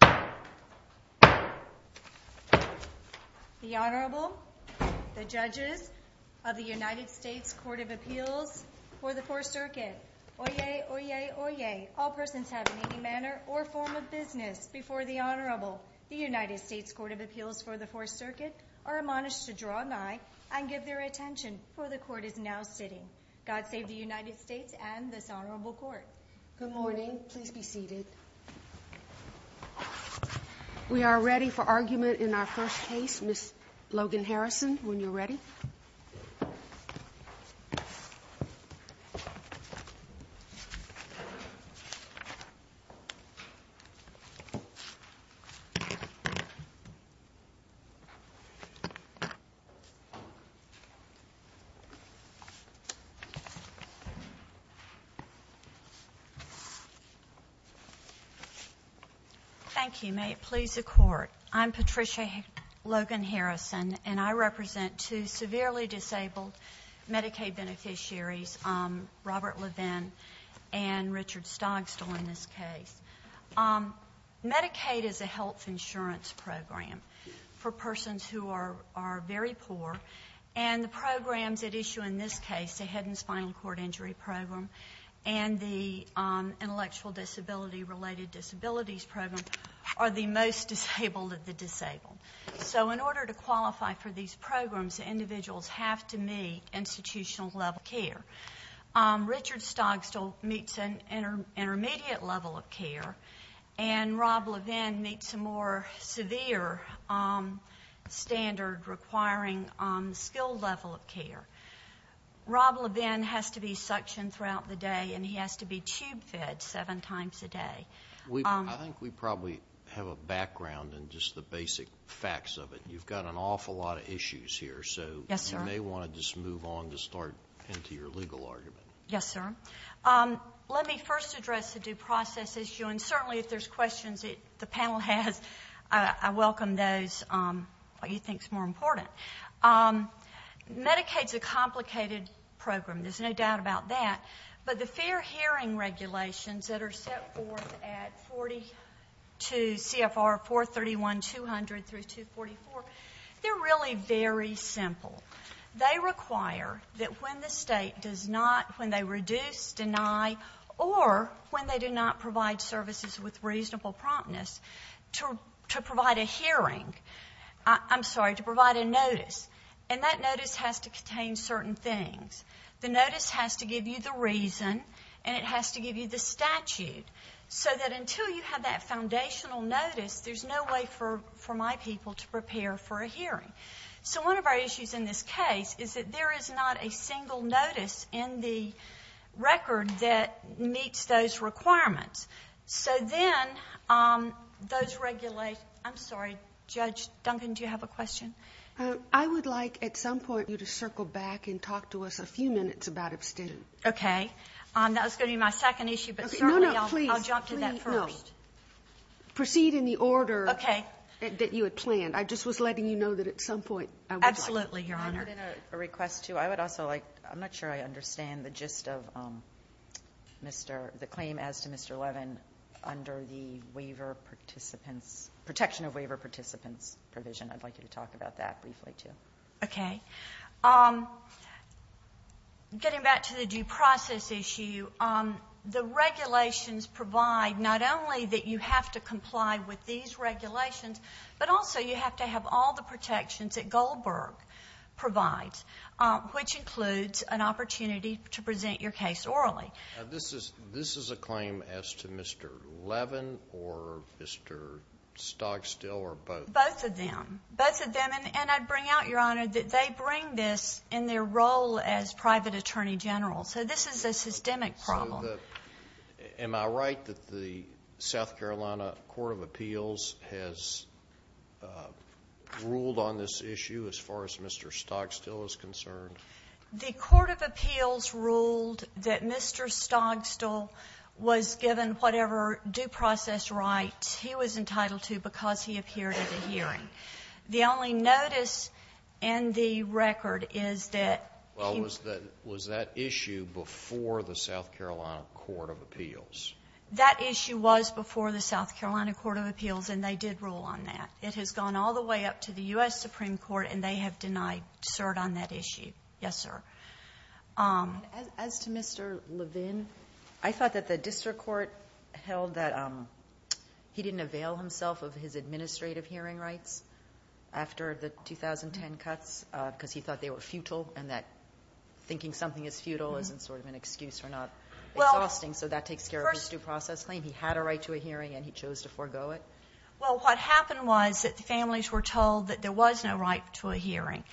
The Honorable, the Judges of the United States Court of Appeals for the 4th Circuit. Oyez! Oyez! Oyez! All persons have any manner or form of business before the Honorable. The United States Court of Appeals for the 4th Circuit are admonished to draw nigh and give their attention, for the Court is now sitting. God save the United States and this Honorable Court. Good morning, please be seated. We are ready for argument in our first case. Ms. Logan Harrison, when you're ready. Thank you, may it please the Court. I'm Patricia Logan Harrison and I represent two severely disabled Medicaid beneficiaries, Robert Levin and Richard Stogsdill in this case. Medicaid is a health insurance program for persons who are very poor and the programs at issue in this case, the Head and Spinal Cord Injury Program and the Intellectual Disability Related Disabilities Program, are the most disabled of the disabled. So in order to qualify for these programs, individuals have to meet institutional level care. Richard Stogsdill meets an intermediate level of care and Rob Levin meets a more severe standard requiring skilled level of care. Rob Levin has to be suctioned throughout the day and he has to be tube fed seven times a day. I think we probably have a background in just the basic facts of it. You've got an awful lot of issues here so you may want to just move on to start into your legal argument. Yes, sir. Let me first address the due process issue and certainly if there's questions the panel has, I welcome those, what you think is more important. Medicaid is a complicated program, there's no doubt about that, but the fair hearing regulations that are set forth at 42 CFR 431-200 through 244, they're really very simple. They require that when the state does not, when they reduce, deny or when they do not provide services with reasonable promptness to provide a hearing, I'm sorry, to provide a notice and that notice has to contain certain things. The notice has to give you the reason and it has to give you the statute so that until you have that foundational notice, there's no way for my people to prepare for a hearing. So one of our issues in this case is that there is not a single notice in the record that meets those requirements. So then those regulations, I'm sorry, Judge Duncan, do you have a question? I would like at some point you to circle back and talk to us a few minutes about abstentions. Okay. That was going to be my second issue, but certainly I'll jump to that first. No, no, please. Proceed in the order that you had planned. Okay. I just was letting you know that at some point I would like. Absolutely, Your Honor. Can I put in a request too? I would also like, I'm not sure I understand the gist of the claim as to Mr. Levin under the waiver participants, protection of waiver participants provision. I'd like you to talk about that briefly too. Okay. Getting back to the due process issue, the regulations provide not only that you have to comply with these regulations, but also you have to have all the protections that Goldberg provides, which includes an opportunity to present your case orally. This is a claim as to Mr. Levin or Mr. Stogstill or both? Both of them. Both of them. And I'd bring out, Your Honor, that they bring this in their role as private attorney general. So this is a systemic problem. Am I right that the South Carolina Court of Appeals has ruled on this issue as far as Mr. Stogstill is concerned? The Court of Appeals ruled that Mr. Stogstill was given whatever due process right he was entitled to because he appeared at a hearing. The only notice in the record is that he was. Well, was that issue before the South Carolina Court of Appeals? That issue was before the South Carolina Court of Appeals, and they did rule on that. It has gone all the way up to the U.S. Supreme Court, and they have denied cert on that issue. Yes, sir. As to Mr. Levin, I thought that the district court held that he didn't avail himself of his administrative hearing rights after the 2010 cuts because he thought they were futile and that thinking something is futile isn't sort of an excuse or not exhausting, so that takes care of his due process claim. He had a right to a hearing, and he chose to forego it. Well, what happened was that the families were told that there was no right to a hearing,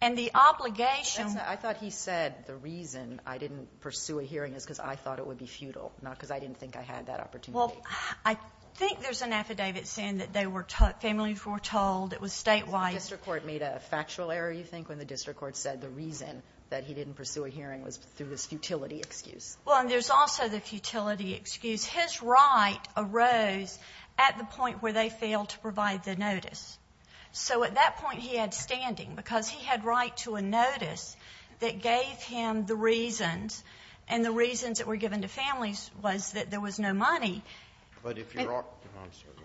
and the obligation I thought he said the reason I didn't pursue a hearing is because I thought it would be futile, not because I didn't think I had that opportunity. Well, I think there's an affidavit saying that families were told it was statewide. The district court made a factual error, you think, when the district court said the reason that he didn't pursue a hearing was through this futility excuse. Well, and there's also the futility excuse. So at that point he had standing because he had right to a notice that gave him the reasons, and the reasons that were given to families was that there was no money.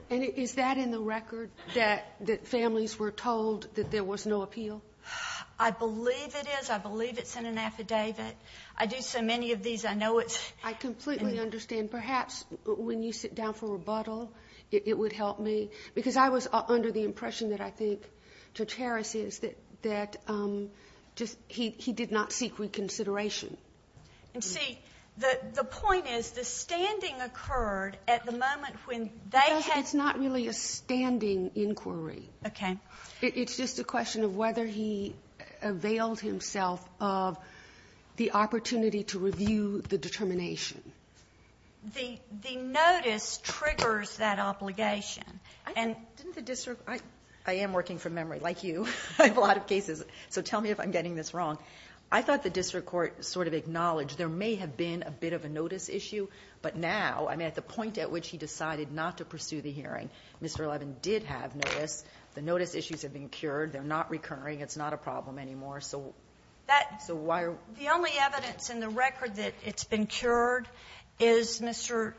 And is that in the record, that families were told that there was no appeal? I believe it is. I believe it's in an affidavit. I do so many of these, I know it's in the affidavit. I completely understand. And perhaps when you sit down for rebuttal it would help me, because I was under the impression that I think Judge Harris is that he did not seek reconsideration. And see, the point is the standing occurred at the moment when they had Because it's not really a standing inquiry. Okay. It's just a question of whether he availed himself of the opportunity to review the determination. The notice triggers that obligation. And didn't the district, I am working from memory, like you, I have a lot of cases, so tell me if I'm getting this wrong. I thought the district court sort of acknowledged there may have been a bit of a notice issue, but now, I mean, at the point at which he decided not to pursue the hearing, Mr. Levin did have notice. The notice issues have been cured. They're not recurring. It's not a problem anymore. So why are The only evidence in the record that it's been cured is Mr.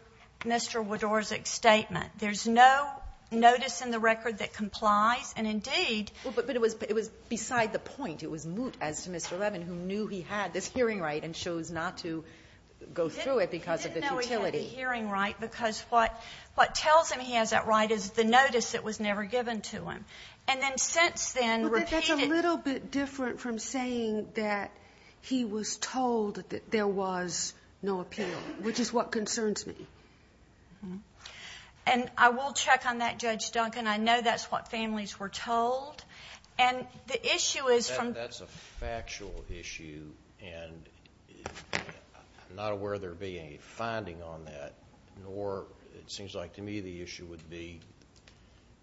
Widorczyk's statement. There's no notice in the record that complies. And indeed But it was beside the point. It was moot as to Mr. Levin, who knew he had this hearing right and chose not to go through it because of the futility. Because what tells him he has that right is the notice that was never given to him. And then since then, repeated But that's a little bit different from saying that he was told that there was no appeal, which is what concerns me. And I will check on that, Judge Duncan. I know that's what families were told. And the issue is That's a factual issue, and I'm not aware there being a finding on that, nor it seems like to me the issue would be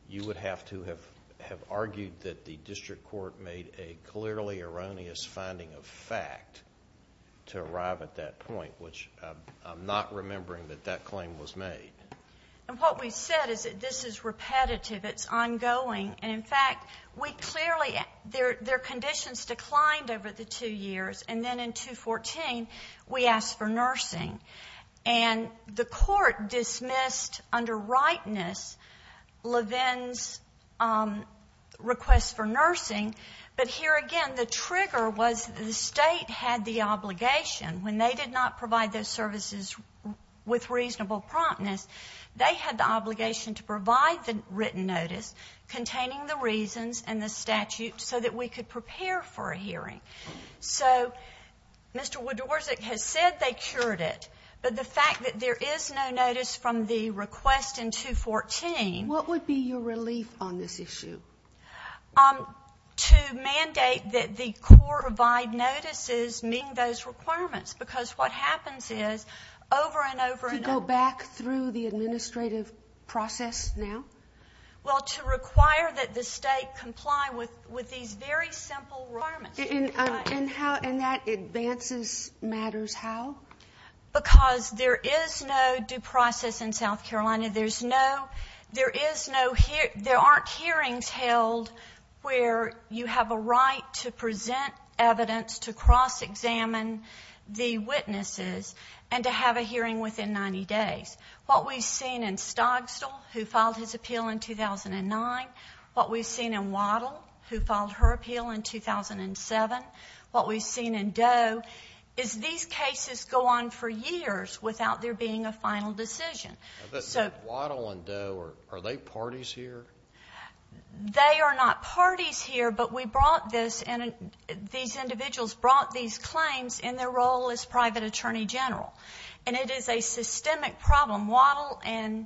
you would have to have argued that the district court made a clearly erroneous finding of fact to arrive at that point, which I'm not remembering that that claim was made. And what we've said is that this is repetitive. It's ongoing. And, in fact, we clearly Their conditions declined over the two years. And then in 2014, we asked for nursing. And the court dismissed under rightness Levin's request for nursing. But here again, the trigger was the state had the obligation. When they did not provide those services with reasonable promptness, they had the obligation to provide the written notice containing the reasons and the statute so that we could prepare for a hearing. So Mr. Wodorczyk has said they cured it. But the fact that there is no notice from the request in 214 What would be your relief on this issue? To mandate that the court provide notices meeting those requirements, because what happens is over and over and over to go back through the administrative process now? Well, to require that the state comply with these very simple requirements. And that advances matters how? Because there is no due process in South Carolina. There aren't hearings held where you have a right to present evidence, to cross-examine the witnesses, and to have a hearing within 90 days. What we've seen in Stogstall, who filed his appeal in 2009, what we've seen in Waddell, who filed her appeal in 2007, what we've seen in Doe is these cases go on for years without there being a final decision. But Waddell and Doe, are they parties here? They are not parties here, but we brought this. These individuals brought these claims in their role as private attorney general. And it is a systemic problem. Waddell and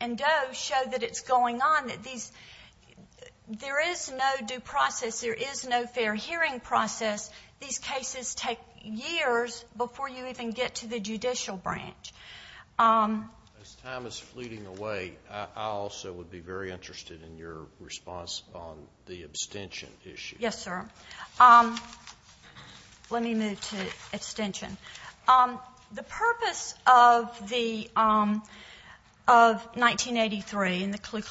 Doe show that it's going on, that there is no due process. There is no fair hearing process. These cases take years before you even get to the judicial branch. As time is fleeting away, I also would be very interested in your response on the abstention issue. Yes, sir. Let me move to abstention. The purpose of 1983 and the Ku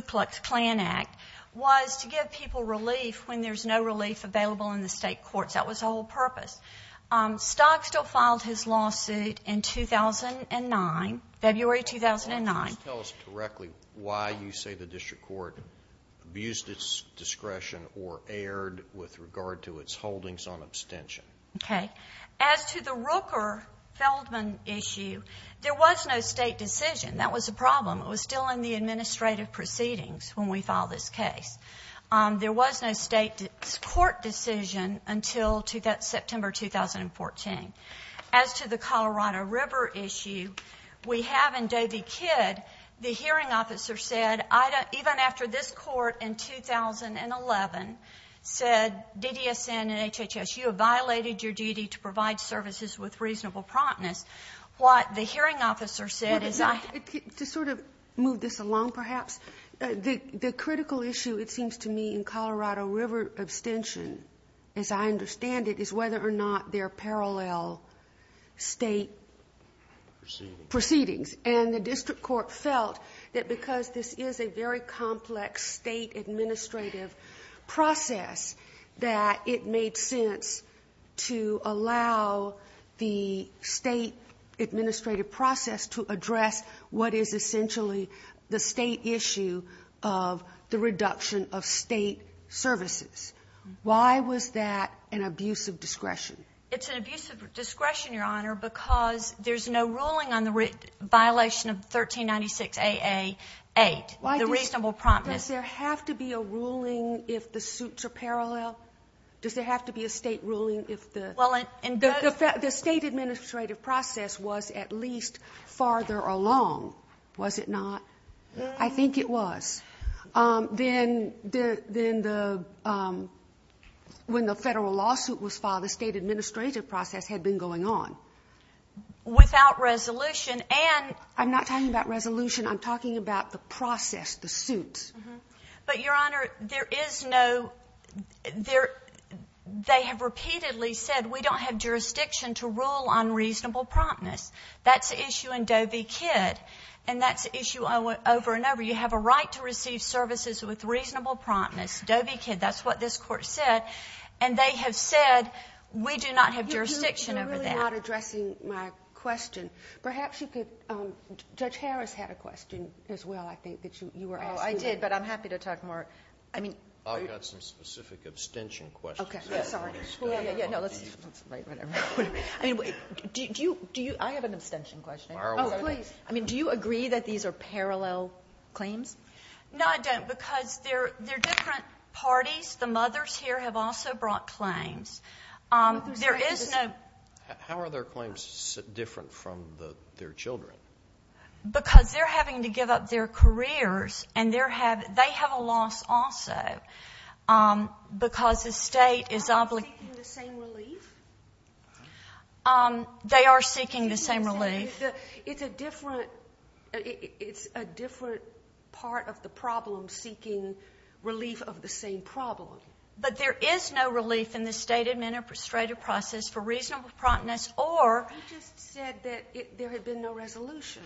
Klux Klan Act was to give people relief when there's no relief available in the state courts. That was the whole purpose. Stock still filed his lawsuit in 2009, February 2009. Can you just tell us directly why you say the district court abused its discretion or erred with regard to its holdings on abstention? Okay. As to the Rooker-Feldman issue, there was no state decision. That was the problem. It was still in the administrative proceedings when we filed this case. There was no state court decision until September 2014. As to the Colorado River issue, we have in Doe v. Kidd, the hearing officer said, even after this court in 2011 said DDSN and HHS, you have violated your duty to provide services with reasonable promptness. Just to sort of move this along perhaps, the critical issue, it seems to me, in Colorado River abstention, as I understand it, is whether or not there are parallel state proceedings. And the district court felt that because this is a very complex state administrative process, that it made sense to allow the state administrative process to address what is essentially the state issue of the reduction of state services. Why was that an abuse of discretion? It's an abuse of discretion, Your Honor, because there's no ruling on the violation of 1396-AA-8, the reasonable promptness. Does there have to be a ruling if the suits are parallel? Does there have to be a state ruling if the state administrative process was at least farther along? Was it not? I think it was. Then when the federal lawsuit was filed, the state administrative process had been going on. Without resolution. I'm not talking about resolution. I'm talking about the process, the suits. But, Your Honor, there is noóthey have repeatedly said, we don't have jurisdiction to rule on reasonable promptness. That's an issue in Doe v. Kidd, and that's an issue over and over. You have a right to receive services with reasonable promptness. Doe v. Kidd, that's what this court said. And they have said, we do not have jurisdiction over that. You're really not addressing my question. Perhaps you couldóJudge Harris had a question as well, I think, that you were asking. Oh, I did, but I'm happy to talk more. I've got some specific abstention questions. Okay, sorry. Yeah, no, let's write whatever. I have an abstention question. Oh, please. Do you agree that these are parallel claims? No, I don't, because they're different parties. The mothers here have also brought claims. There is noó Because they're having to give up their careers, and they have a loss also, because the state isó Are they seeking the same relief? They are seeking the same relief. It's a different part of the problem, seeking relief of the same problem. But there is no relief in the state administrative process for reasonable promptness, oró I just said that there had been no resolution.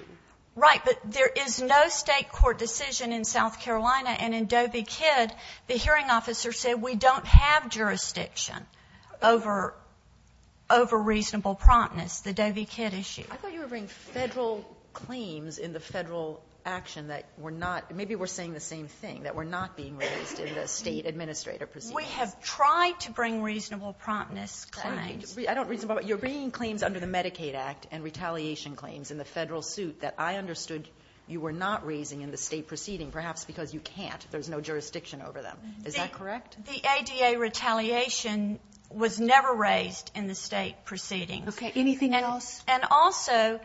Right, but there is no state court decision in South Carolina. And in Doe v. Kidd, the hearing officer said we don't have jurisdiction over reasonable promptness, the Doe v. Kidd issue. I thought you were bringing Federal claims in the Federal action that were notómaybe we're saying the same thingó that were not being released in the state administrative proceedings. We have tried to bring reasonable promptness claims. I don'tóyou're bringing claims under the Medicaid Act and retaliation claims in the Federal suit that I understood you were not raising in the state proceeding, perhaps because you can't. There's no jurisdiction over them. Is that correct? The ADA retaliation was never raised in the state proceedings. Okay. Anything else? And also,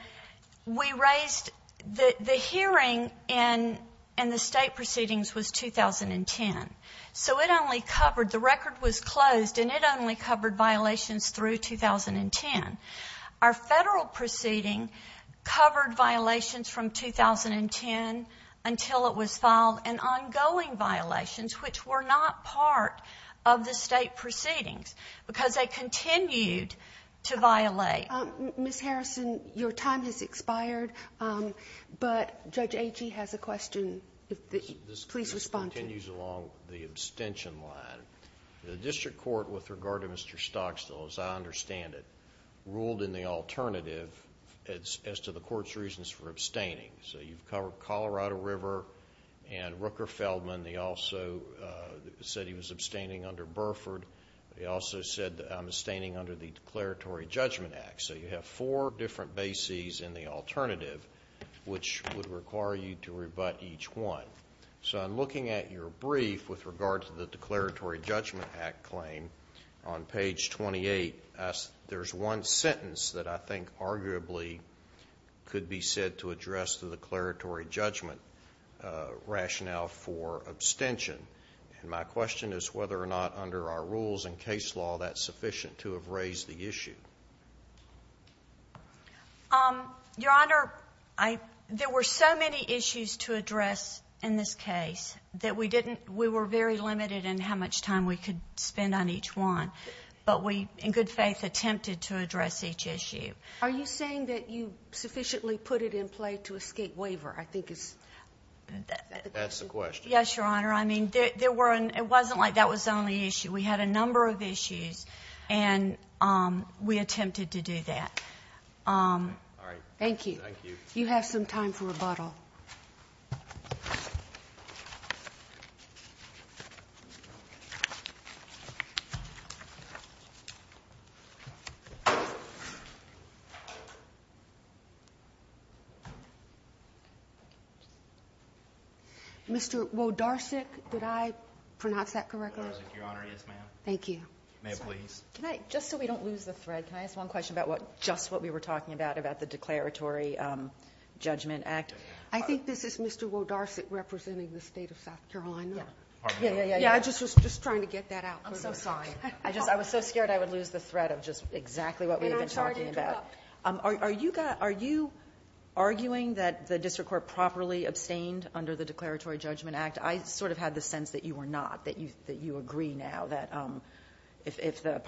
we raisedóthe hearing in the state proceedings was 2010. So it only coveredóthe record was closed, and it only covered violations through 2010. Our Federal proceeding covered violations from 2010 until it was filed, and ongoing violations, which were not part of the state proceedings, because they continued to violate. Ms. Harrison, your time has expired, but Judge Agee has a question. Please respond to it. It continues along the abstention line. The district court, with regard to Mr. Stockstill, as I understand it, ruled in the alternative as to the court's reasons for abstaining. So you've covered Colorado River and Rooker-Feldman. They also said he was abstaining under Burford. They also said I'm abstaining under the Declaratory Judgment Act. So you have four different bases in the alternative, which would require you to rebut each one. So I'm looking at your brief with regard to the Declaratory Judgment Act claim on page 28. There's one sentence that I think arguably could be said to address the declaratory judgment rationale for abstention. And my question is whether or not, under our rules and case law, that's sufficient to have raised the issue. Your Honor, there were so many issues to address in this case that we were very limited in how much time we could spend on each one. But we, in good faith, attempted to address each issue. Are you saying that you sufficiently put it in play to escape waiver? I think that's the question. Yes, Your Honor. I mean, it wasn't like that was the only issue. We had a number of issues, and we attempted to do that. All right. Thank you. Thank you. You have some time for rebuttal. Mr. Wodarczyk, did I pronounce that correctly? Your Honor, yes, ma'am. Thank you. Ma'am, please. Just so we don't lose the thread, can I ask one question about just what we were talking about, about the Declaratory Judgment Act? I think this is Mr. Wodarczyk representing the state of South Carolina. Yeah, yeah, yeah. Yeah, I was just trying to get that out. I'm so sorry. I was so scared I would lose the thread of just exactly what we've been talking about. And I'm sorry to interrupt. Are you arguing that the district court properly abstained under the Declaratory Judgment Act? I sort of had the sense that you were not, that you agree now that if the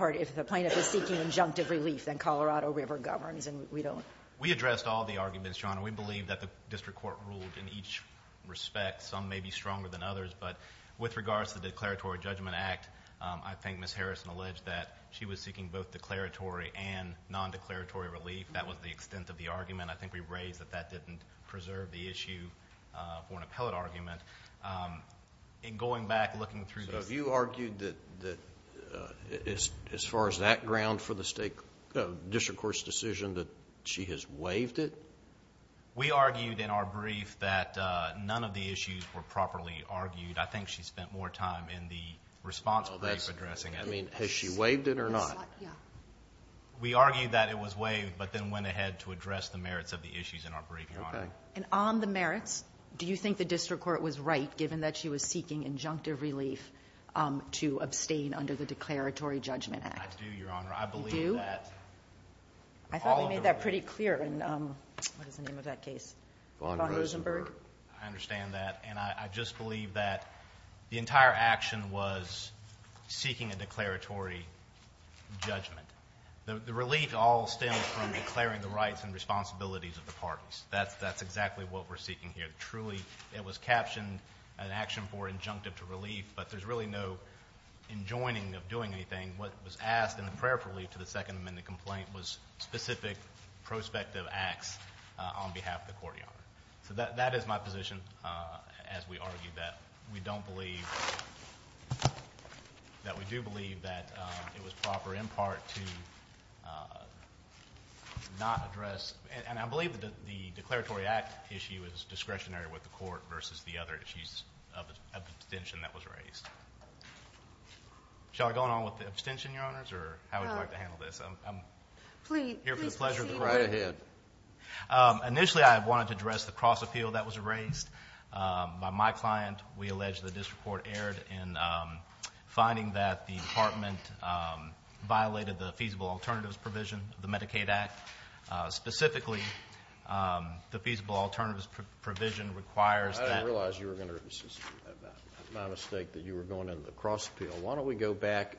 plaintiff is seeking injunctive relief, then Colorado River governs, and we don't. We addressed all the arguments, Your Honor. We believe that the district court ruled in each respect. Some may be stronger than others, but with regards to the Declaratory Judgment Act, I think Ms. Harrison alleged that she was seeking both declaratory and nondeclaratory relief. That was the extent of the argument. I think we raised that that didn't preserve the issue for an appellate argument. In going back, looking through these. So you argued that as far as that ground for the district court's decision that she has waived it? We argued in our brief that none of the issues were properly argued. I think she spent more time in the response brief addressing it. Has she waived it or not? We argued that it was waived, but then went ahead to address the merits of the issues in our brief, Your Honor. And on the merits, do you think the district court was right, given that she was seeking injunctive relief to abstain under the Declaratory Judgment Act? I do, Your Honor. I believe that. You do? I thought we made that pretty clear. What is the name of that case? Von Rosenberg. I understand that. And I just believe that the entire action was seeking a declaratory judgment. The relief all stems from declaring the rights and responsibilities of the parties. That's exactly what we're seeking here. Truly, it was captioned an action for injunctive relief, but there's really no enjoining of doing anything. What was asked in the prayer for relief to the Second Amendment complaint was specific prospective acts on behalf of the court, Your Honor. So that is my position as we argue that we don't believe, that we do believe that it was proper in part to not address, and I believe that the Declaratory Act issue is discretionary with the court versus the other issues of abstention that was raised. Shall I go on with the abstention, Your Honors, or how would you like to handle this? Please proceed. I'm here for the pleasure of the court. Right ahead. Initially, I wanted to address the cross-appeal that was raised by my client. We allege the district court erred in finding that the department violated the Feasible Alternatives Provision of the Medicaid Act. Specifically, the Feasible Alternatives Provision requires that. I didn't realize you were going to insist on that. It's my mistake that you were going into the cross-appeal. Why don't we go back.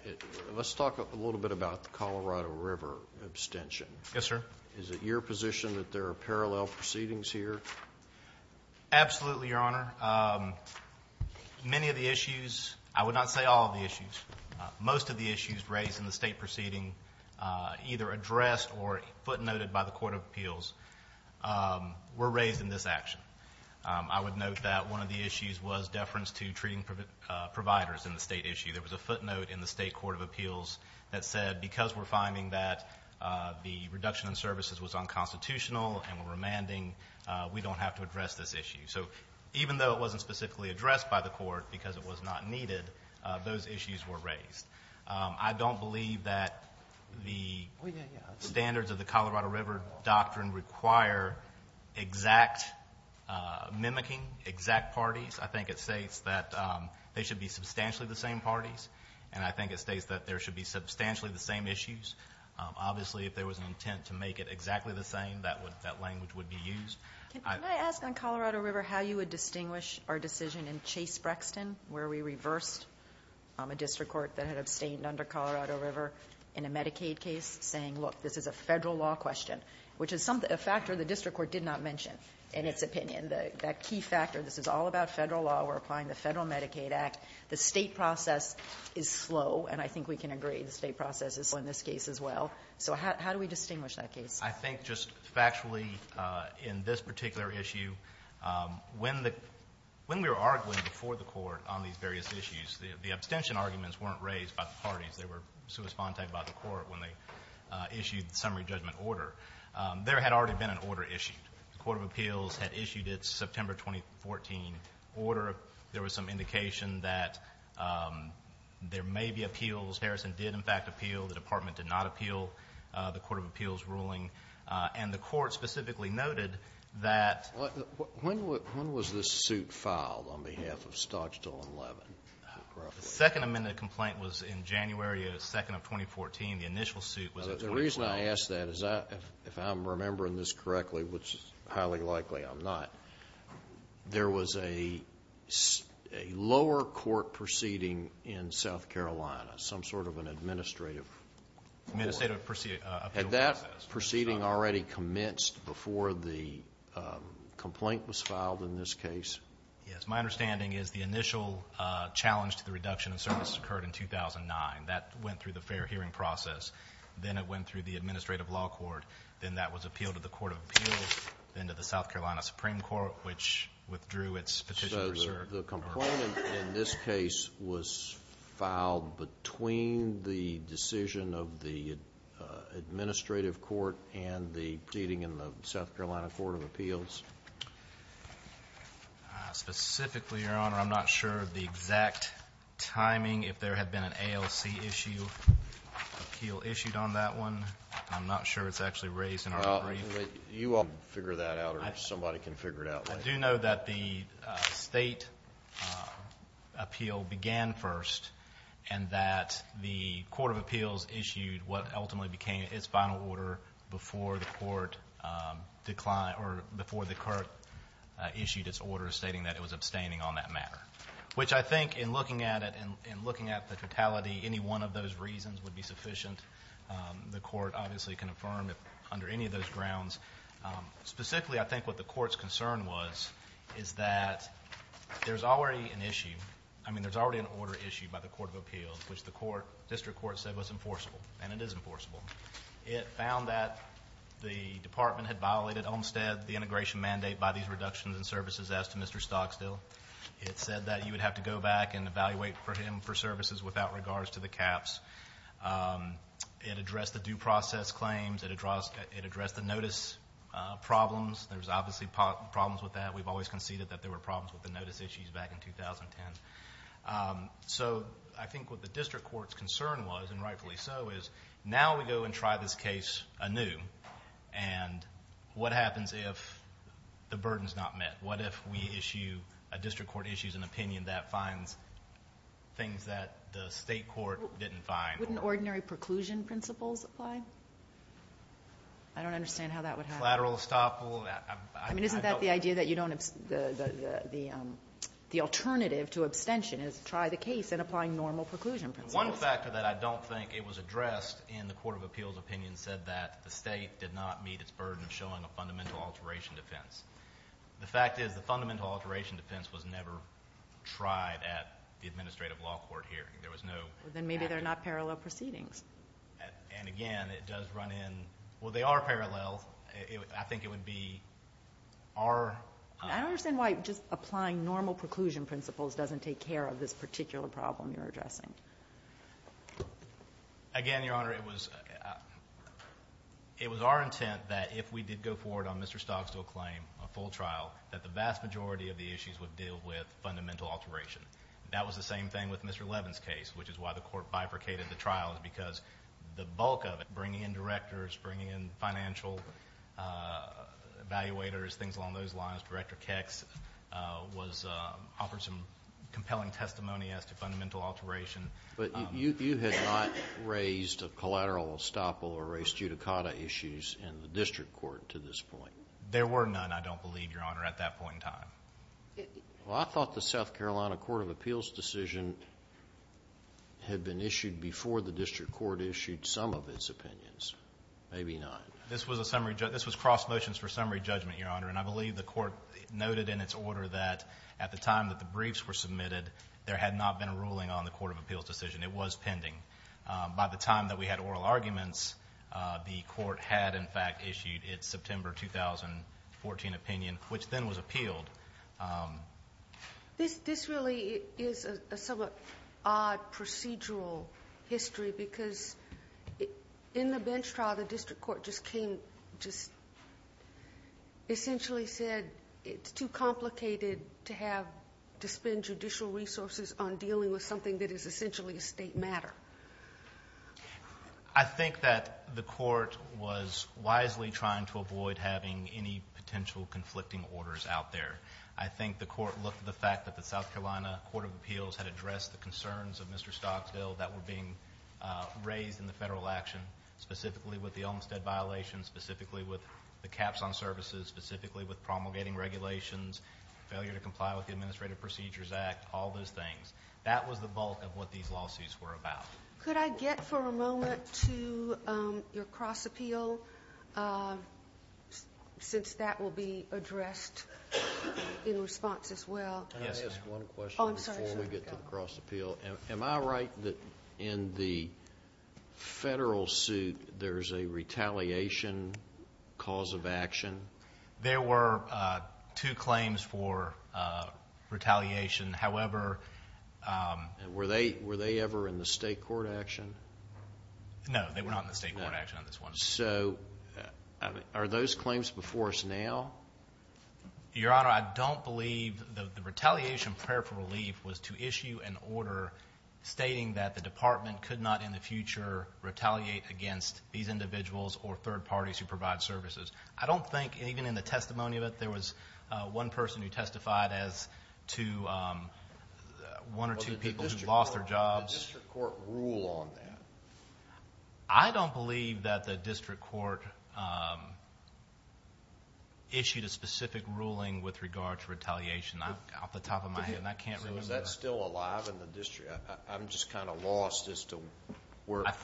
Let's talk a little bit about the Colorado River abstention. Yes, sir. Is it your position that there are parallel proceedings here? Absolutely, Your Honor. Many of the issues, I would not say all of the issues, most of the issues raised in the state proceeding, either addressed or footnoted by the Court of Appeals, were raised in this action. I would note that one of the issues was deference to treating providers in the state issue. There was a footnote in the state Court of Appeals that said, because we're finding that the reduction in services was unconstitutional and we're remanding, we don't have to address this issue. Even though it wasn't specifically addressed by the court because it was not needed, those issues were raised. I don't believe that the standards of the Colorado River doctrine require exact mimicking, exact parties. I think it states that they should be substantially the same parties, and I think it states that there should be substantially the same issues. Obviously, if there was an intent to make it exactly the same, that language would be used. Can I ask on Colorado River how you would distinguish our decision in Chase-Brexton where we reversed a district court that had abstained under Colorado River in a Medicaid case, saying, look, this is a federal law question, which is a factor the district court did not mention in its opinion. That key factor, this is all about federal law, we're applying the Federal Medicaid Act, the state process is slow, and I think we can agree the state process is slow in this case as well. So how do we distinguish that case? I think just factually in this particular issue, when we were arguing before the court on these various issues, the abstention arguments weren't raised by the parties. They were sui sponte by the court when they issued the summary judgment order. There had already been an order issued. The Court of Appeals had issued its September 2014 order. There was some indication that there may be appeals. Harrison did, in fact, appeal. The department did not appeal the Court of Appeals ruling, and the court specifically noted that. When was this suit filed on behalf of Stodgetall and Levin? The second amended complaint was in January 2, 2014. The initial suit was in 2012. The reason I ask that is if I'm remembering this correctly, which highly likely I'm not, there was a lower court proceeding in South Carolina, some sort of an administrative court. Administrative appeal process. Had that proceeding already commenced before the complaint was filed in this case? Yes, my understanding is the initial challenge to the reduction in services occurred in 2009. That went through the fair hearing process. Then it went through the Administrative Law Court. Then that was appealed to the Court of Appeals. Then to the South Carolina Supreme Court, which withdrew its petition. So the complaint in this case was filed between the decision of the administrative court and the proceeding in the South Carolina Court of Appeals? Specifically, Your Honor, I'm not sure of the exact timing. If there had been an ALC appeal issued on that one, I'm not sure. It's actually raised in our brief. You all can figure that out or somebody can figure it out. I do know that the state appeal began first and that the Court of Appeals issued what ultimately became its final order before the court issued its order stating that it was abstaining on that matter. Which I think in looking at it and looking at the totality, any one of those reasons would be sufficient. The court obviously can affirm under any of those grounds. Specifically, I think what the court's concern was is that there's already an issue. I mean, there's already an order issued by the Court of Appeals which the district court said was enforceable, and it is enforceable. It found that the department had violated Olmstead, the integration mandate by these reductions in services, as to Mr. Stocksdale. It said that you would have to go back and evaluate for him for services without regards to the caps. It addressed the due process claims. It addressed the notice problems. There's obviously problems with that. We've always conceded that there were problems with the notice issues back in 2010. So I think what the district court's concern was, and rightfully so, is now we go and try this case anew, and what happens if the burden's not met? What if we issue, a district court issues an opinion that finds things that the state court didn't find? Wouldn't ordinary preclusion principles apply? I don't understand how that would happen. Collateral estoppel. I mean, isn't that the idea that the alternative to abstention is try the case and applying normal preclusion principles? One factor that I don't think it was addressed in the Court of Appeals opinion said that the state did not meet its burden of showing a fundamental alteration defense. The fact is the fundamental alteration defense was never tried at the administrative law court hearing. There was no action. Then maybe they're not parallel proceedings. And again, it does run in. Well, they are parallel. I think it would be our... I don't understand why just applying normal preclusion principles doesn't take care of this particular problem you're addressing. Again, Your Honor, it was our intent that if we did go forward on Mr. Stocksville's claim, a full trial, that the vast majority of the issues would deal with fundamental alteration. That was the same thing with Mr. Levin's case, which is why the court bifurcated the trial because the bulk of it, bringing in directors, bringing in financial evaluators, things along those lines, Director Kex, offered some compelling testimony as to fundamental alteration. But you had not raised a collateral estoppel or raised judicata issues in the district court to this point. There were none, I don't believe, Your Honor, at that point in time. Well, I thought the South Carolina Court of Appeals decision had been issued before the district court issued some of its opinions. Maybe not. This was cross motions for summary judgment, Your Honor, and I believe the court noted in its order that at the time that the briefs were submitted, there had not been a ruling on the Court of Appeals decision. It was pending. By the time that we had oral arguments, the court had, in fact, issued its September 2014 opinion, which then was appealed. This really is a somewhat odd procedural history because in the bench trial, the district court just essentially said it's too complicated to spend judicial resources on dealing with something that is essentially a state matter. I think that the court was wisely trying to avoid having any potential conflicting orders out there. I think the court looked at the fact that the South Carolina Court of Appeals had addressed the concerns of Mr. Stocksville that were being raised in the federal action, specifically with the Olmstead violation, specifically with the caps on services, specifically with promulgating regulations, failure to comply with the Administrative Procedures Act, all those things. That was the bulk of what these lawsuits were about. Could I get for a moment to your cross appeal, since that will be addressed in response as well? Yes, ma'am. Can I ask one question before we get to the cross appeal? Oh, I'm sorry. Go ahead. Am I right that in the federal suit, there's a retaliation cause of action? There were two claims for retaliation. Were they ever in the state court action? No, they were not in the state court action on this one. Are those claims before us now? Your Honor, I don't believe the retaliation prayer for relief was to issue an order stating that the department could not in the future retaliate against these individuals or third parties who provide services. I don't think, even in the testimony of it, there was one person who testified as to one or two people who lost their jobs. Did the district court rule on that? I don't believe that the district court issued a specific ruling with regard to retaliation off the top of my head, and I can't remember that. Is that still alive in the district? I'm just kind of lost as to where... I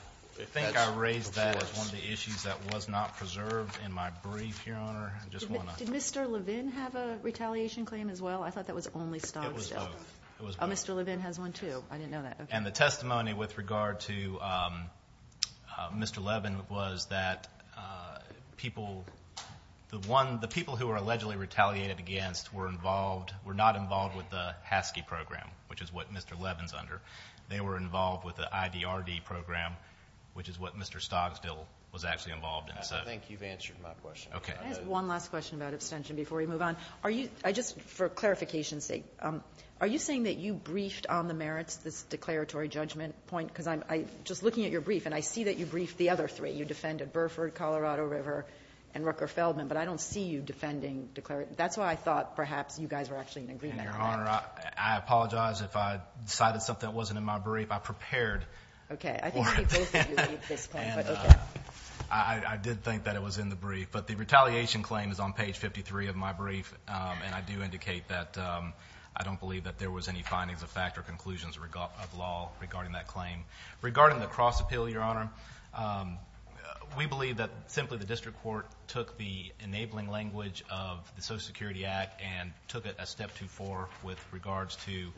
think I raised that as one of the issues that was not preserved in my brief here, Your Honor. I just want to... Did Mr. Levin have a retaliation claim as well? I thought that was only Stogsdill. It was both. Oh, Mr. Levin has one, too. I didn't know that. And the testimony with regard to Mr. Levin was that people... the people who were allegedly retaliated against were involved... were not involved with the HASKEY program, which is what Mr. Levin is under. They were involved with the IDRD program, which is what Mr. Stogsdill was actually involved in. I think you've answered my question. Okay. I have one last question about abstention before we move on. Just for clarification's sake, are you saying that you briefed on the merits of this declaratory judgment point? Because I'm just looking at your brief, and I see that you briefed the other three. You defended Burford, Colorado River, and Rucker-Feldman, but I don't see you defending declaratory... That's why I thought perhaps you guys were actually in agreement on that. And, Your Honor, I apologize if I decided something that wasn't in my brief. I prepared for it. Okay. I think maybe both of you made this point, but okay. I did think that it was in the brief, but the retaliation claim is on page 53 of my brief, and I do indicate that I don't believe that there was any findings of fact or conclusions of law regarding that claim. Regarding the cross-appeal, Your Honor, we believe that simply the district court took the enabling language of the Social Security Act and took it a step too far with regards to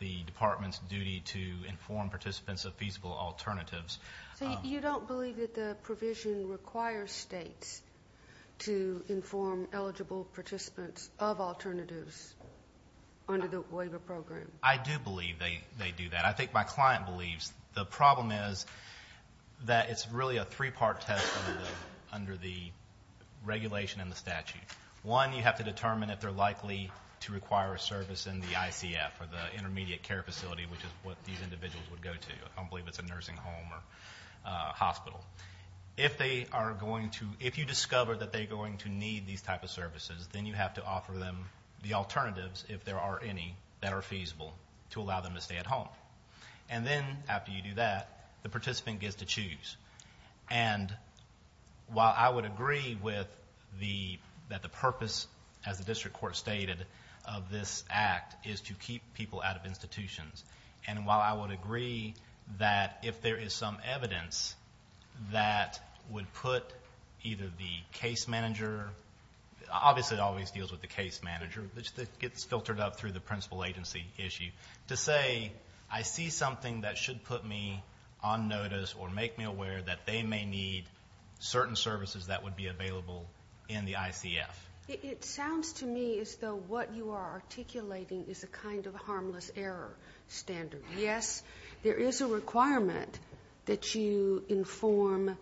the department's duty to inform participants of feasible alternatives. So you don't believe that the provision requires states to inform eligible participants of alternatives under the waiver program? I do believe they do that. I think my client believes. The problem is that it's really a three-part test under the regulation and the statute. One, you have to determine if they're likely to require a service in the ICF or the intermediate care facility, which is what these individuals would go to. I believe it's a nursing home or hospital. If you discover that they're going to need these types of services, then you have to offer them the alternatives, if there are any, that are feasible to allow them to stay at home. And then after you do that, the participant gets to choose. And while I would agree that the purpose, as the district court stated, of this act is to keep people out of institutions, and while I would agree that if there is some evidence that would put either the case manager, obviously it always deals with the case manager, it gets filtered up through the principal agency issue, to say, I see something that should put me on notice or make me aware that they may need certain services that would be available in the ICF. It sounds to me as though what you are articulating is a kind of harmless error standard. Yes, there is a requirement that you inform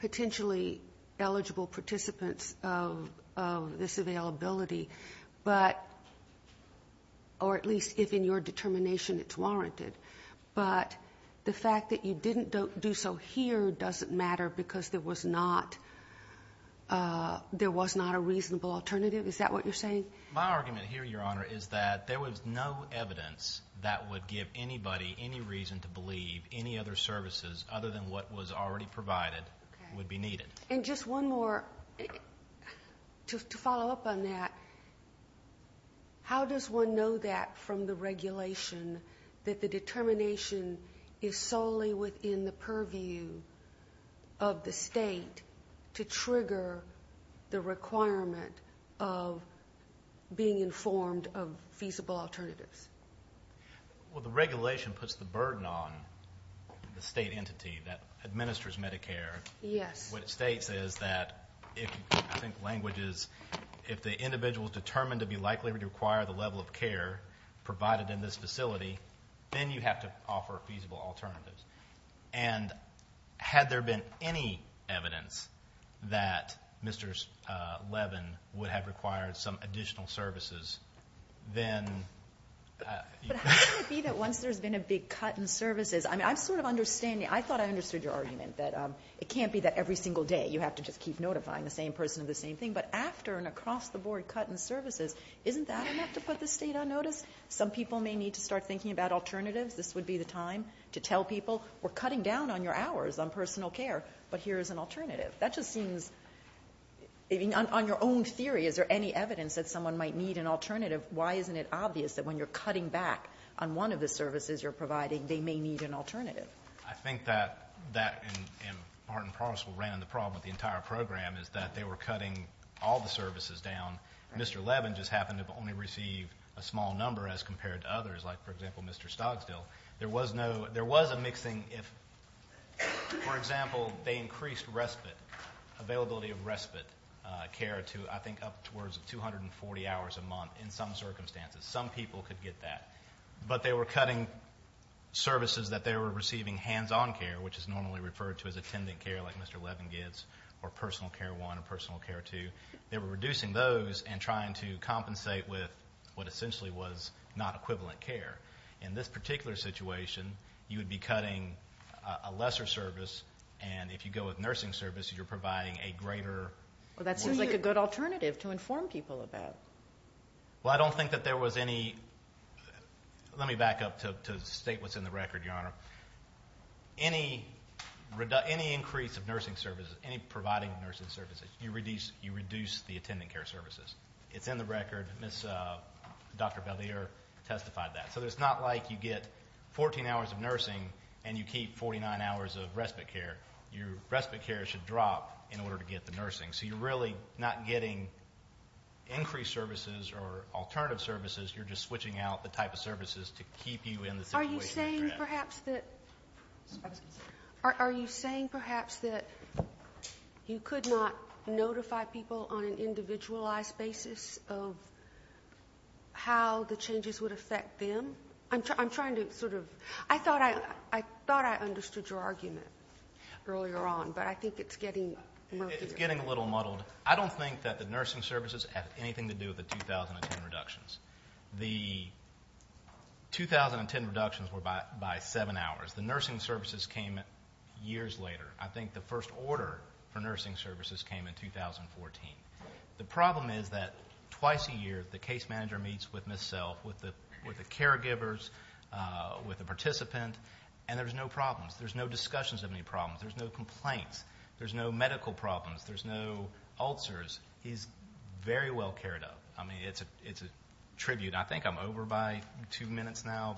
potentially eligible participants of this availability, or at least if in your determination it's warranted. But the fact that you didn't do so here doesn't matter because there was not a reasonable alternative? Is that what you're saying? My argument here, Your Honor, is that there was no evidence that would give anybody any reason to believe any other services other than what was already provided would be needed. And just one more, to follow up on that, how does one know that from the regulation that the determination is solely within the purview of the state to trigger the requirement of being informed of feasible alternatives? Well, the regulation puts the burden on the state entity that administers Medicare. Yes. What it states is that, I think the language is, if the individual is determined to be likely to require the level of care provided in this facility, then you have to offer feasible alternatives. And had there been any evidence that Mr. Levin would have required some additional services, then you could have. But how can it be that once there's been a big cut in services? I mean, I'm sort of understanding. I thought I understood your argument that it can't be that every single day you have to just keep notifying the same person of the same thing. But after an across-the-board cut in services, isn't that enough to put the state on notice? Some people may need to start thinking about alternatives. This would be the time to tell people, we're cutting down on your hours on personal care, but here's an alternative. That just seems, on your own theory, is there any evidence that someone might need an alternative? Why isn't it obvious that when you're cutting back on one of the services you're providing, they may need an alternative? I think that, and Martin Prosser ran the problem with the entire program, is that they were cutting all the services down. Mr. Levin just happened to only receive a small number as compared to others, like, for example, Mr. Stogsdale. There was a mixing if, for example, they increased respite, availability of respite care to, I think, up towards 240 hours a month in some circumstances. Some people could get that. But they were cutting services that they were receiving hands-on care, which is normally referred to as attendant care like Mr. Levin gets, or personal care 1 or personal care 2. They were reducing those and trying to compensate with what essentially was not equivalent care. In this particular situation, you would be cutting a lesser service, and if you go with nursing service, you're providing a greater... Well, that seems like a good alternative to inform people about. Well, I don't think that there was any... Let me back up to state what's in the record, Your Honor. Any increase of nursing services, any providing of nursing services, you reduce the attendant care services. It's in the record. Dr. Bellier testified that. So it's not like you get 14 hours of nursing and you keep 49 hours of respite care. Your respite care should drop in order to get the nursing. So you're really not getting increased services or alternative services. You're just switching out the type of services to keep you in the situation that you're in. Are you saying perhaps that you could not notify people on an individualized basis of how the changes would affect them? I'm trying to sort of... I thought I understood your argument earlier on, but I think it's getting murkier. It's getting a little muddled. I don't think that the nursing services have anything to do with the 2010 reductions. The 2010 reductions were by 7 hours. The nursing services came years later. I think the first order for nursing services came in 2014. The problem is that twice a year the case manager meets with Ms. Self, with the caregivers, with the participant, and there's no problems. There's no discussions of any problems. There's no complaints. There's no medical problems. There's no ulcers. He's very well cared of. I mean, it's a tribute. I think I'm over by two minutes now.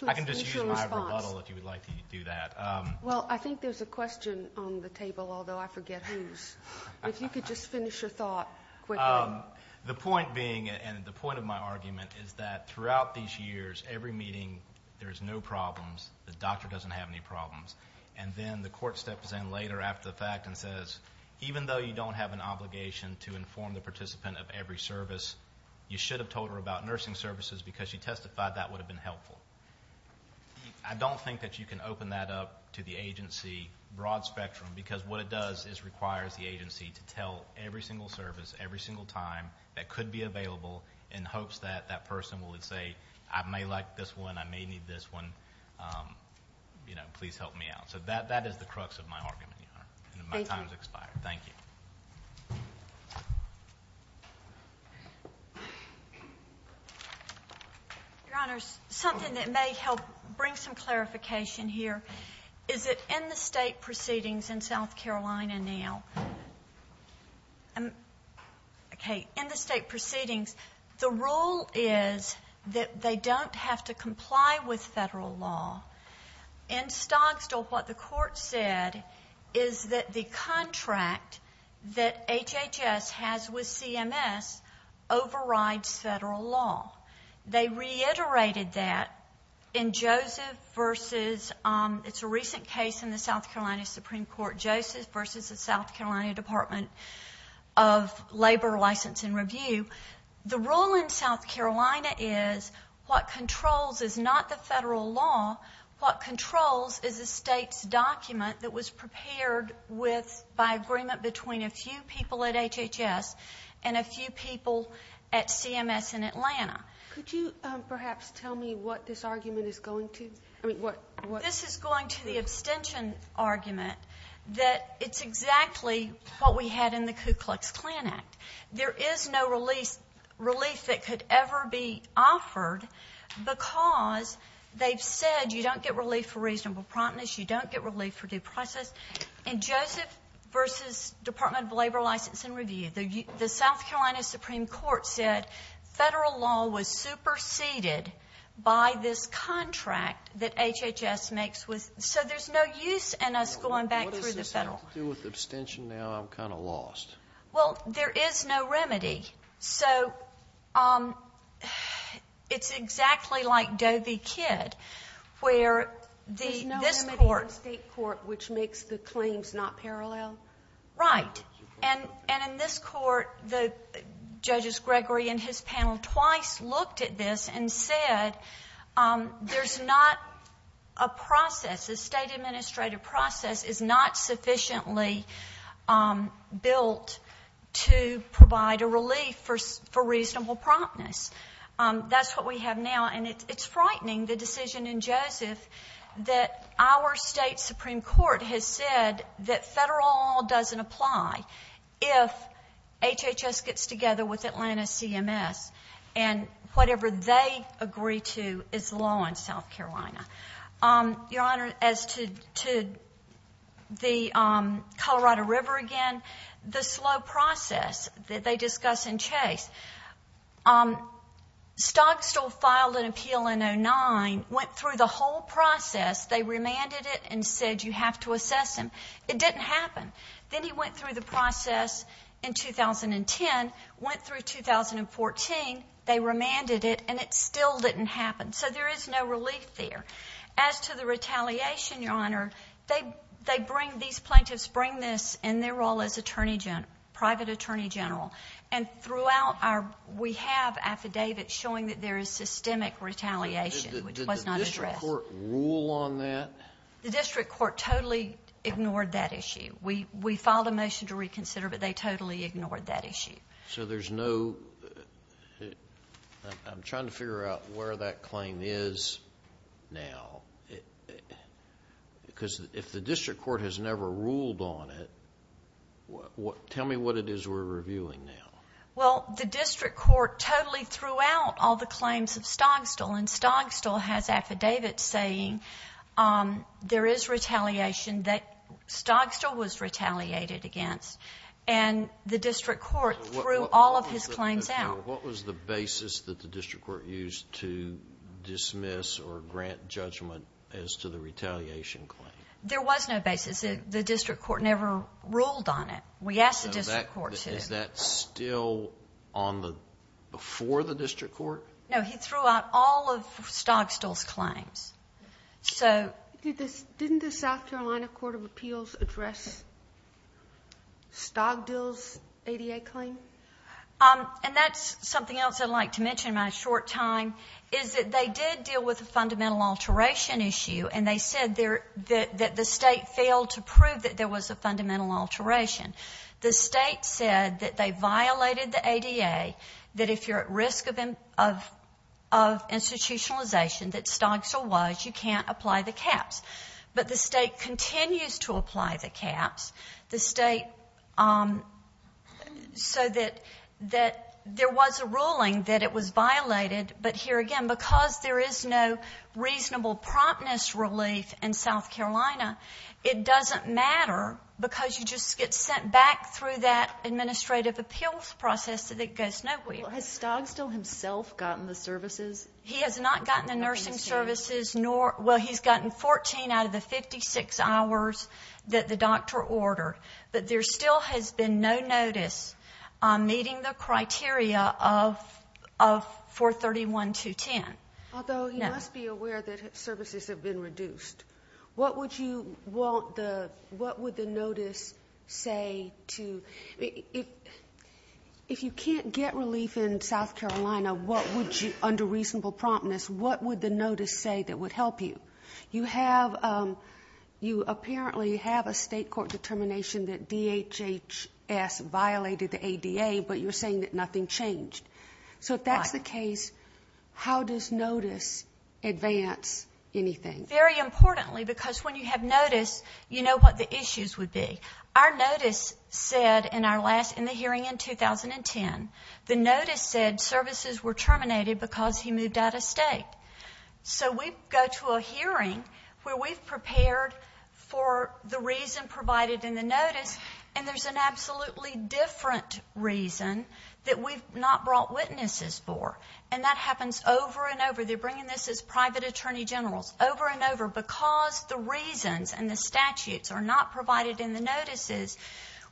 I can just use my rebuttal if you would like to do that. Well, I think there's a question on the table, although I forget whose. If you could just finish your thought quickly. The point being, and the point of my argument, is that throughout these years, every meeting there's no problems. The doctor doesn't have any problems. And then the court steps in later after the fact and says, even though you don't have an obligation to inform the participant of every service, you should have told her about nursing services because she testified that would have been helpful. I don't think that you can open that up to the agency, broad spectrum, because what it does is requires the agency to tell every single service, every single time, that could be available in hopes that that person would say, I may like this one, I may need this one, please help me out. So that is the crux of my argument, Your Honor, and my time has expired. Thank you. Your Honor, something that may help bring some clarification here, is that in the state proceedings in South Carolina now, okay, in the state proceedings, the rule is that they don't have to comply with federal law. In Stogstall, what the court said is that the contract that HHS has with CMS overrides federal law. They reiterated that in Joseph versus, it's a recent case in the South Carolina Supreme Court, Joseph versus the South Carolina Department of Labor License and Review. The rule in South Carolina is what controls is not the federal law. What controls is the state's document that was prepared with, by agreement between a few people at HHS and a few people at CMS in Atlanta. Could you perhaps tell me what this argument is going to? This is going to the abstention argument that it's exactly what we had in the Ku Klux Klan Act. There is no relief that could ever be offered because they've said you don't get relief for reasonable promptness, you don't get relief for due process. In Joseph versus Department of Labor License and Review, the South Carolina Supreme Court said federal law was superseded by this contract that HHS makes with, so there's no use in us going back through the federal law. What does this have to do with abstention now? I'm kind of lost. Well, there is no remedy. So it's exactly like Doe v. Kidd, where this court- There's no remedy in the state court which makes the claims not parallel? Right. And in this court, the Judges Gregory and his panel twice looked at this and said there's not a process, a state administrative process is not sufficiently built to provide a relief for reasonable promptness. That's what we have now, and it's frightening, the decision in Joseph, that our state Supreme Court has said that federal law doesn't apply if HHS gets together with Atlanta CMS and whatever they agree to is law in South Carolina. Your Honor, as to the Colorado River again, the slow process that they discuss in Chase, Stogstall filed an appeal in 2009, went through the whole process, they remanded it and said you have to assess him. It didn't happen. Then he went through the process in 2010, went through 2014, they remanded it, and it still didn't happen. So there is no relief there. As to the retaliation, Your Honor, these plaintiffs bring this in their role as private attorney general, and throughout we have affidavits showing that there is systemic retaliation, which was not addressed. Did the district court rule on that? The district court totally ignored that issue. We filed a motion to reconsider, but they totally ignored that issue. So there's no, I'm trying to figure out where that claim is now. Because if the district court has never ruled on it, tell me what it is we're reviewing now. Well, the district court totally threw out all the claims of Stogstall, and Stogstall has affidavits saying there is retaliation that Stogstall was retaliated against. And the district court threw all of his claims out. What was the basis that the district court used to dismiss or grant judgment as to the retaliation claim? There was no basis. The district court never ruled on it. We asked the district court to. Is that still before the district court? Didn't the South Carolina Court of Appeals address Stogdill's ADA claim? And that's something else I'd like to mention in my short time, is that they did deal with a fundamental alteration issue, and they said that the state failed to prove that there was a fundamental alteration. The state said that they violated the ADA, that if you're at risk of institutionalization that Stogstall was, you can't apply the caps. But the state continues to apply the caps, the state, so that there was a ruling that it was violated, but here again, because there is no reasonable promptness relief in South Carolina, it doesn't matter because you just get sent back through that administrative appeals process so that it goes nowhere. Has Stogdill himself gotten the services? He has not gotten the nursing services. Well, he's gotten 14 out of the 56 hours that the doctor ordered, but there still has been no notice on meeting the criteria of 431.210. Although he must be aware that services have been reduced. What would the notice say to you? If you can't get relief in South Carolina under reasonable promptness, what would the notice say that would help you? You apparently have a state court determination that DHHS violated the ADA, but you're saying that nothing changed. So if that's the case, how does notice advance anything? Very importantly, because when you have notice, you know what the issues would be. Our notice said in the hearing in 2010, the notice said services were terminated because he moved out of state. So we go to a hearing where we've prepared for the reason provided in the notice, and there's an absolutely different reason that we've not brought witnesses for, and that happens over and over. They're bringing this as private attorney generals over and over. Because the reasons and the statutes are not provided in the notices,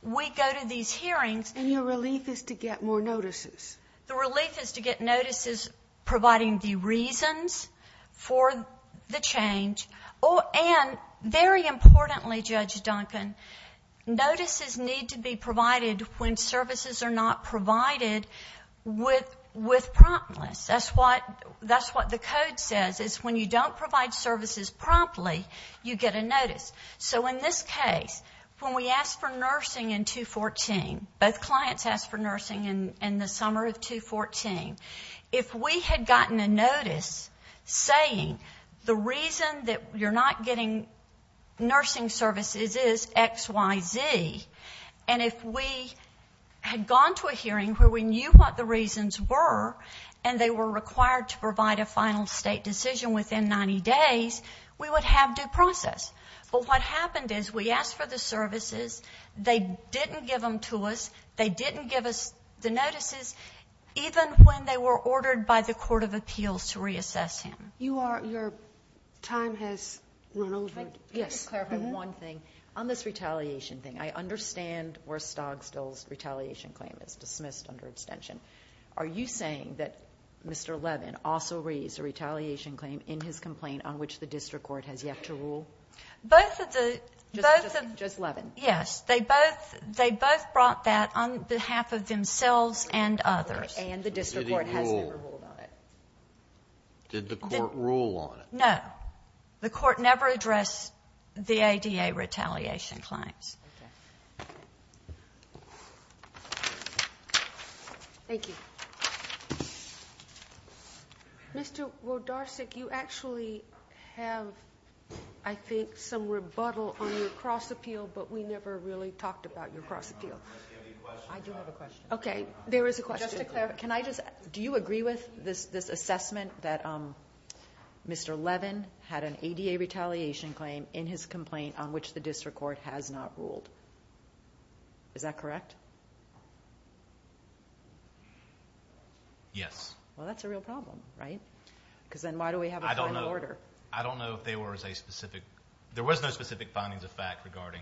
we go to these hearings. And your relief is to get more notices. The relief is to get notices providing the reasons for the change. And very importantly, Judge Duncan, notices need to be provided when services are not provided with promptness. That's what the code says is when you don't provide services promptly, you get a notice. So in this case, when we asked for nursing in 2014, both clients asked for nursing in the summer of 2014, if we had gotten a notice saying the reason that you're not getting nursing services is X, Y, Z, and if we had gone to a hearing where we knew what the reasons were and they were required to provide a final state decision within 90 days, we would have due process. But what happened is we asked for the services, they didn't give them to us, they didn't give us the notices, even when they were ordered by the Court of Appeals to reassess him. Your time has run over. If I could just clarify one thing. On this retaliation thing, I understand where Stogstall's retaliation claim is dismissed under extension. Are you saying that Mr. Levin also raised a retaliation claim in his complaint on which the district court has yet to rule? Both of the ‑‑ Just Levin. Yes. They both brought that on behalf of themselves and others. And the district court has never ruled on it. Did the court rule on it? No. The court never addressed the ADA retaliation claims. Okay. Thank you. Mr. Rodarczyk, you actually have, I think, some rebuttal on your cross appeal, but we never really talked about your cross appeal. I do have a question. Okay. There is a question. Do you agree with this assessment that Mr. Levin had an ADA retaliation claim in his complaint on which the district court has not ruled? Is that correct? Yes. Well, that's a real problem, right? Because then why do we have a final order? I don't know if there was a specific ‑‑ there was no specific findings of fact regarding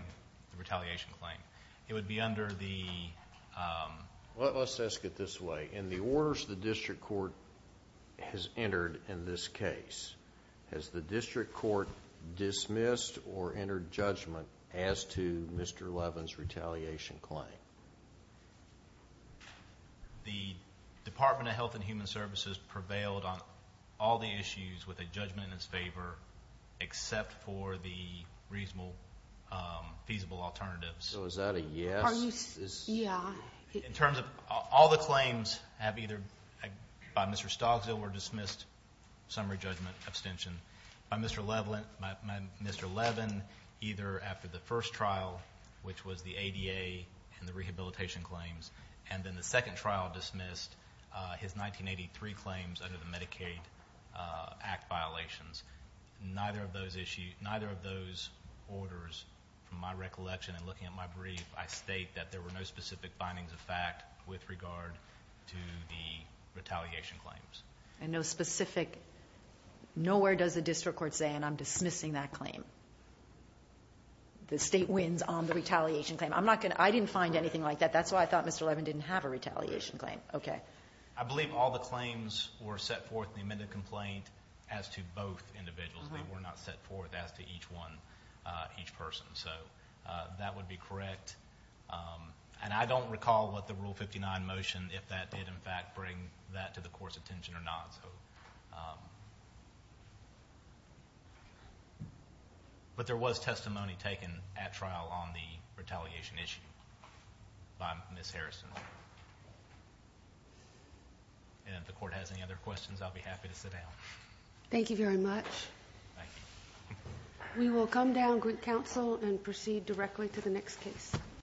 the retaliation claim. It would be under the ‑‑ Well, let's ask it this way. In the orders the district court has entered in this case, has the district court dismissed or entered judgment as to Mr. Levin's retaliation claim? The Department of Health and Human Services prevailed on all the issues with a judgment in its favor except for the reasonable, feasible alternatives. So is that a yes? Yeah. In terms of all the claims have either, by Mr. Stogsdale, were dismissed, summary judgment, abstention. By Mr. Levin, either after the first trial, which was the ADA and the rehabilitation claims, and then the second trial dismissed his 1983 claims under the Medicaid Act violations. Neither of those issues, neither of those orders, from my recollection and looking at my brief, I state that there were no specific findings of fact with regard to the retaliation claims. And no specific ‑‑ nowhere does the district court say, and I'm dismissing that claim. The state wins on the retaliation claim. I'm not going to ‑‑ I didn't find anything like that. That's why I thought Mr. Levin didn't have a retaliation claim. Okay. I believe all the claims were set forth in the amended complaint as to both individuals. They were not set forth as to each one, each person. So that would be correct. And I don't recall what the Rule 59 motion, if that did, in fact, bring that to the court's attention or not. But there was testimony taken at trial on the retaliation issue by Ms. Harrison. And if the court has any other questions, I'll be happy to sit down. Thank you very much. Thank you. We will come down, Greek Council, and proceed directly to the next case.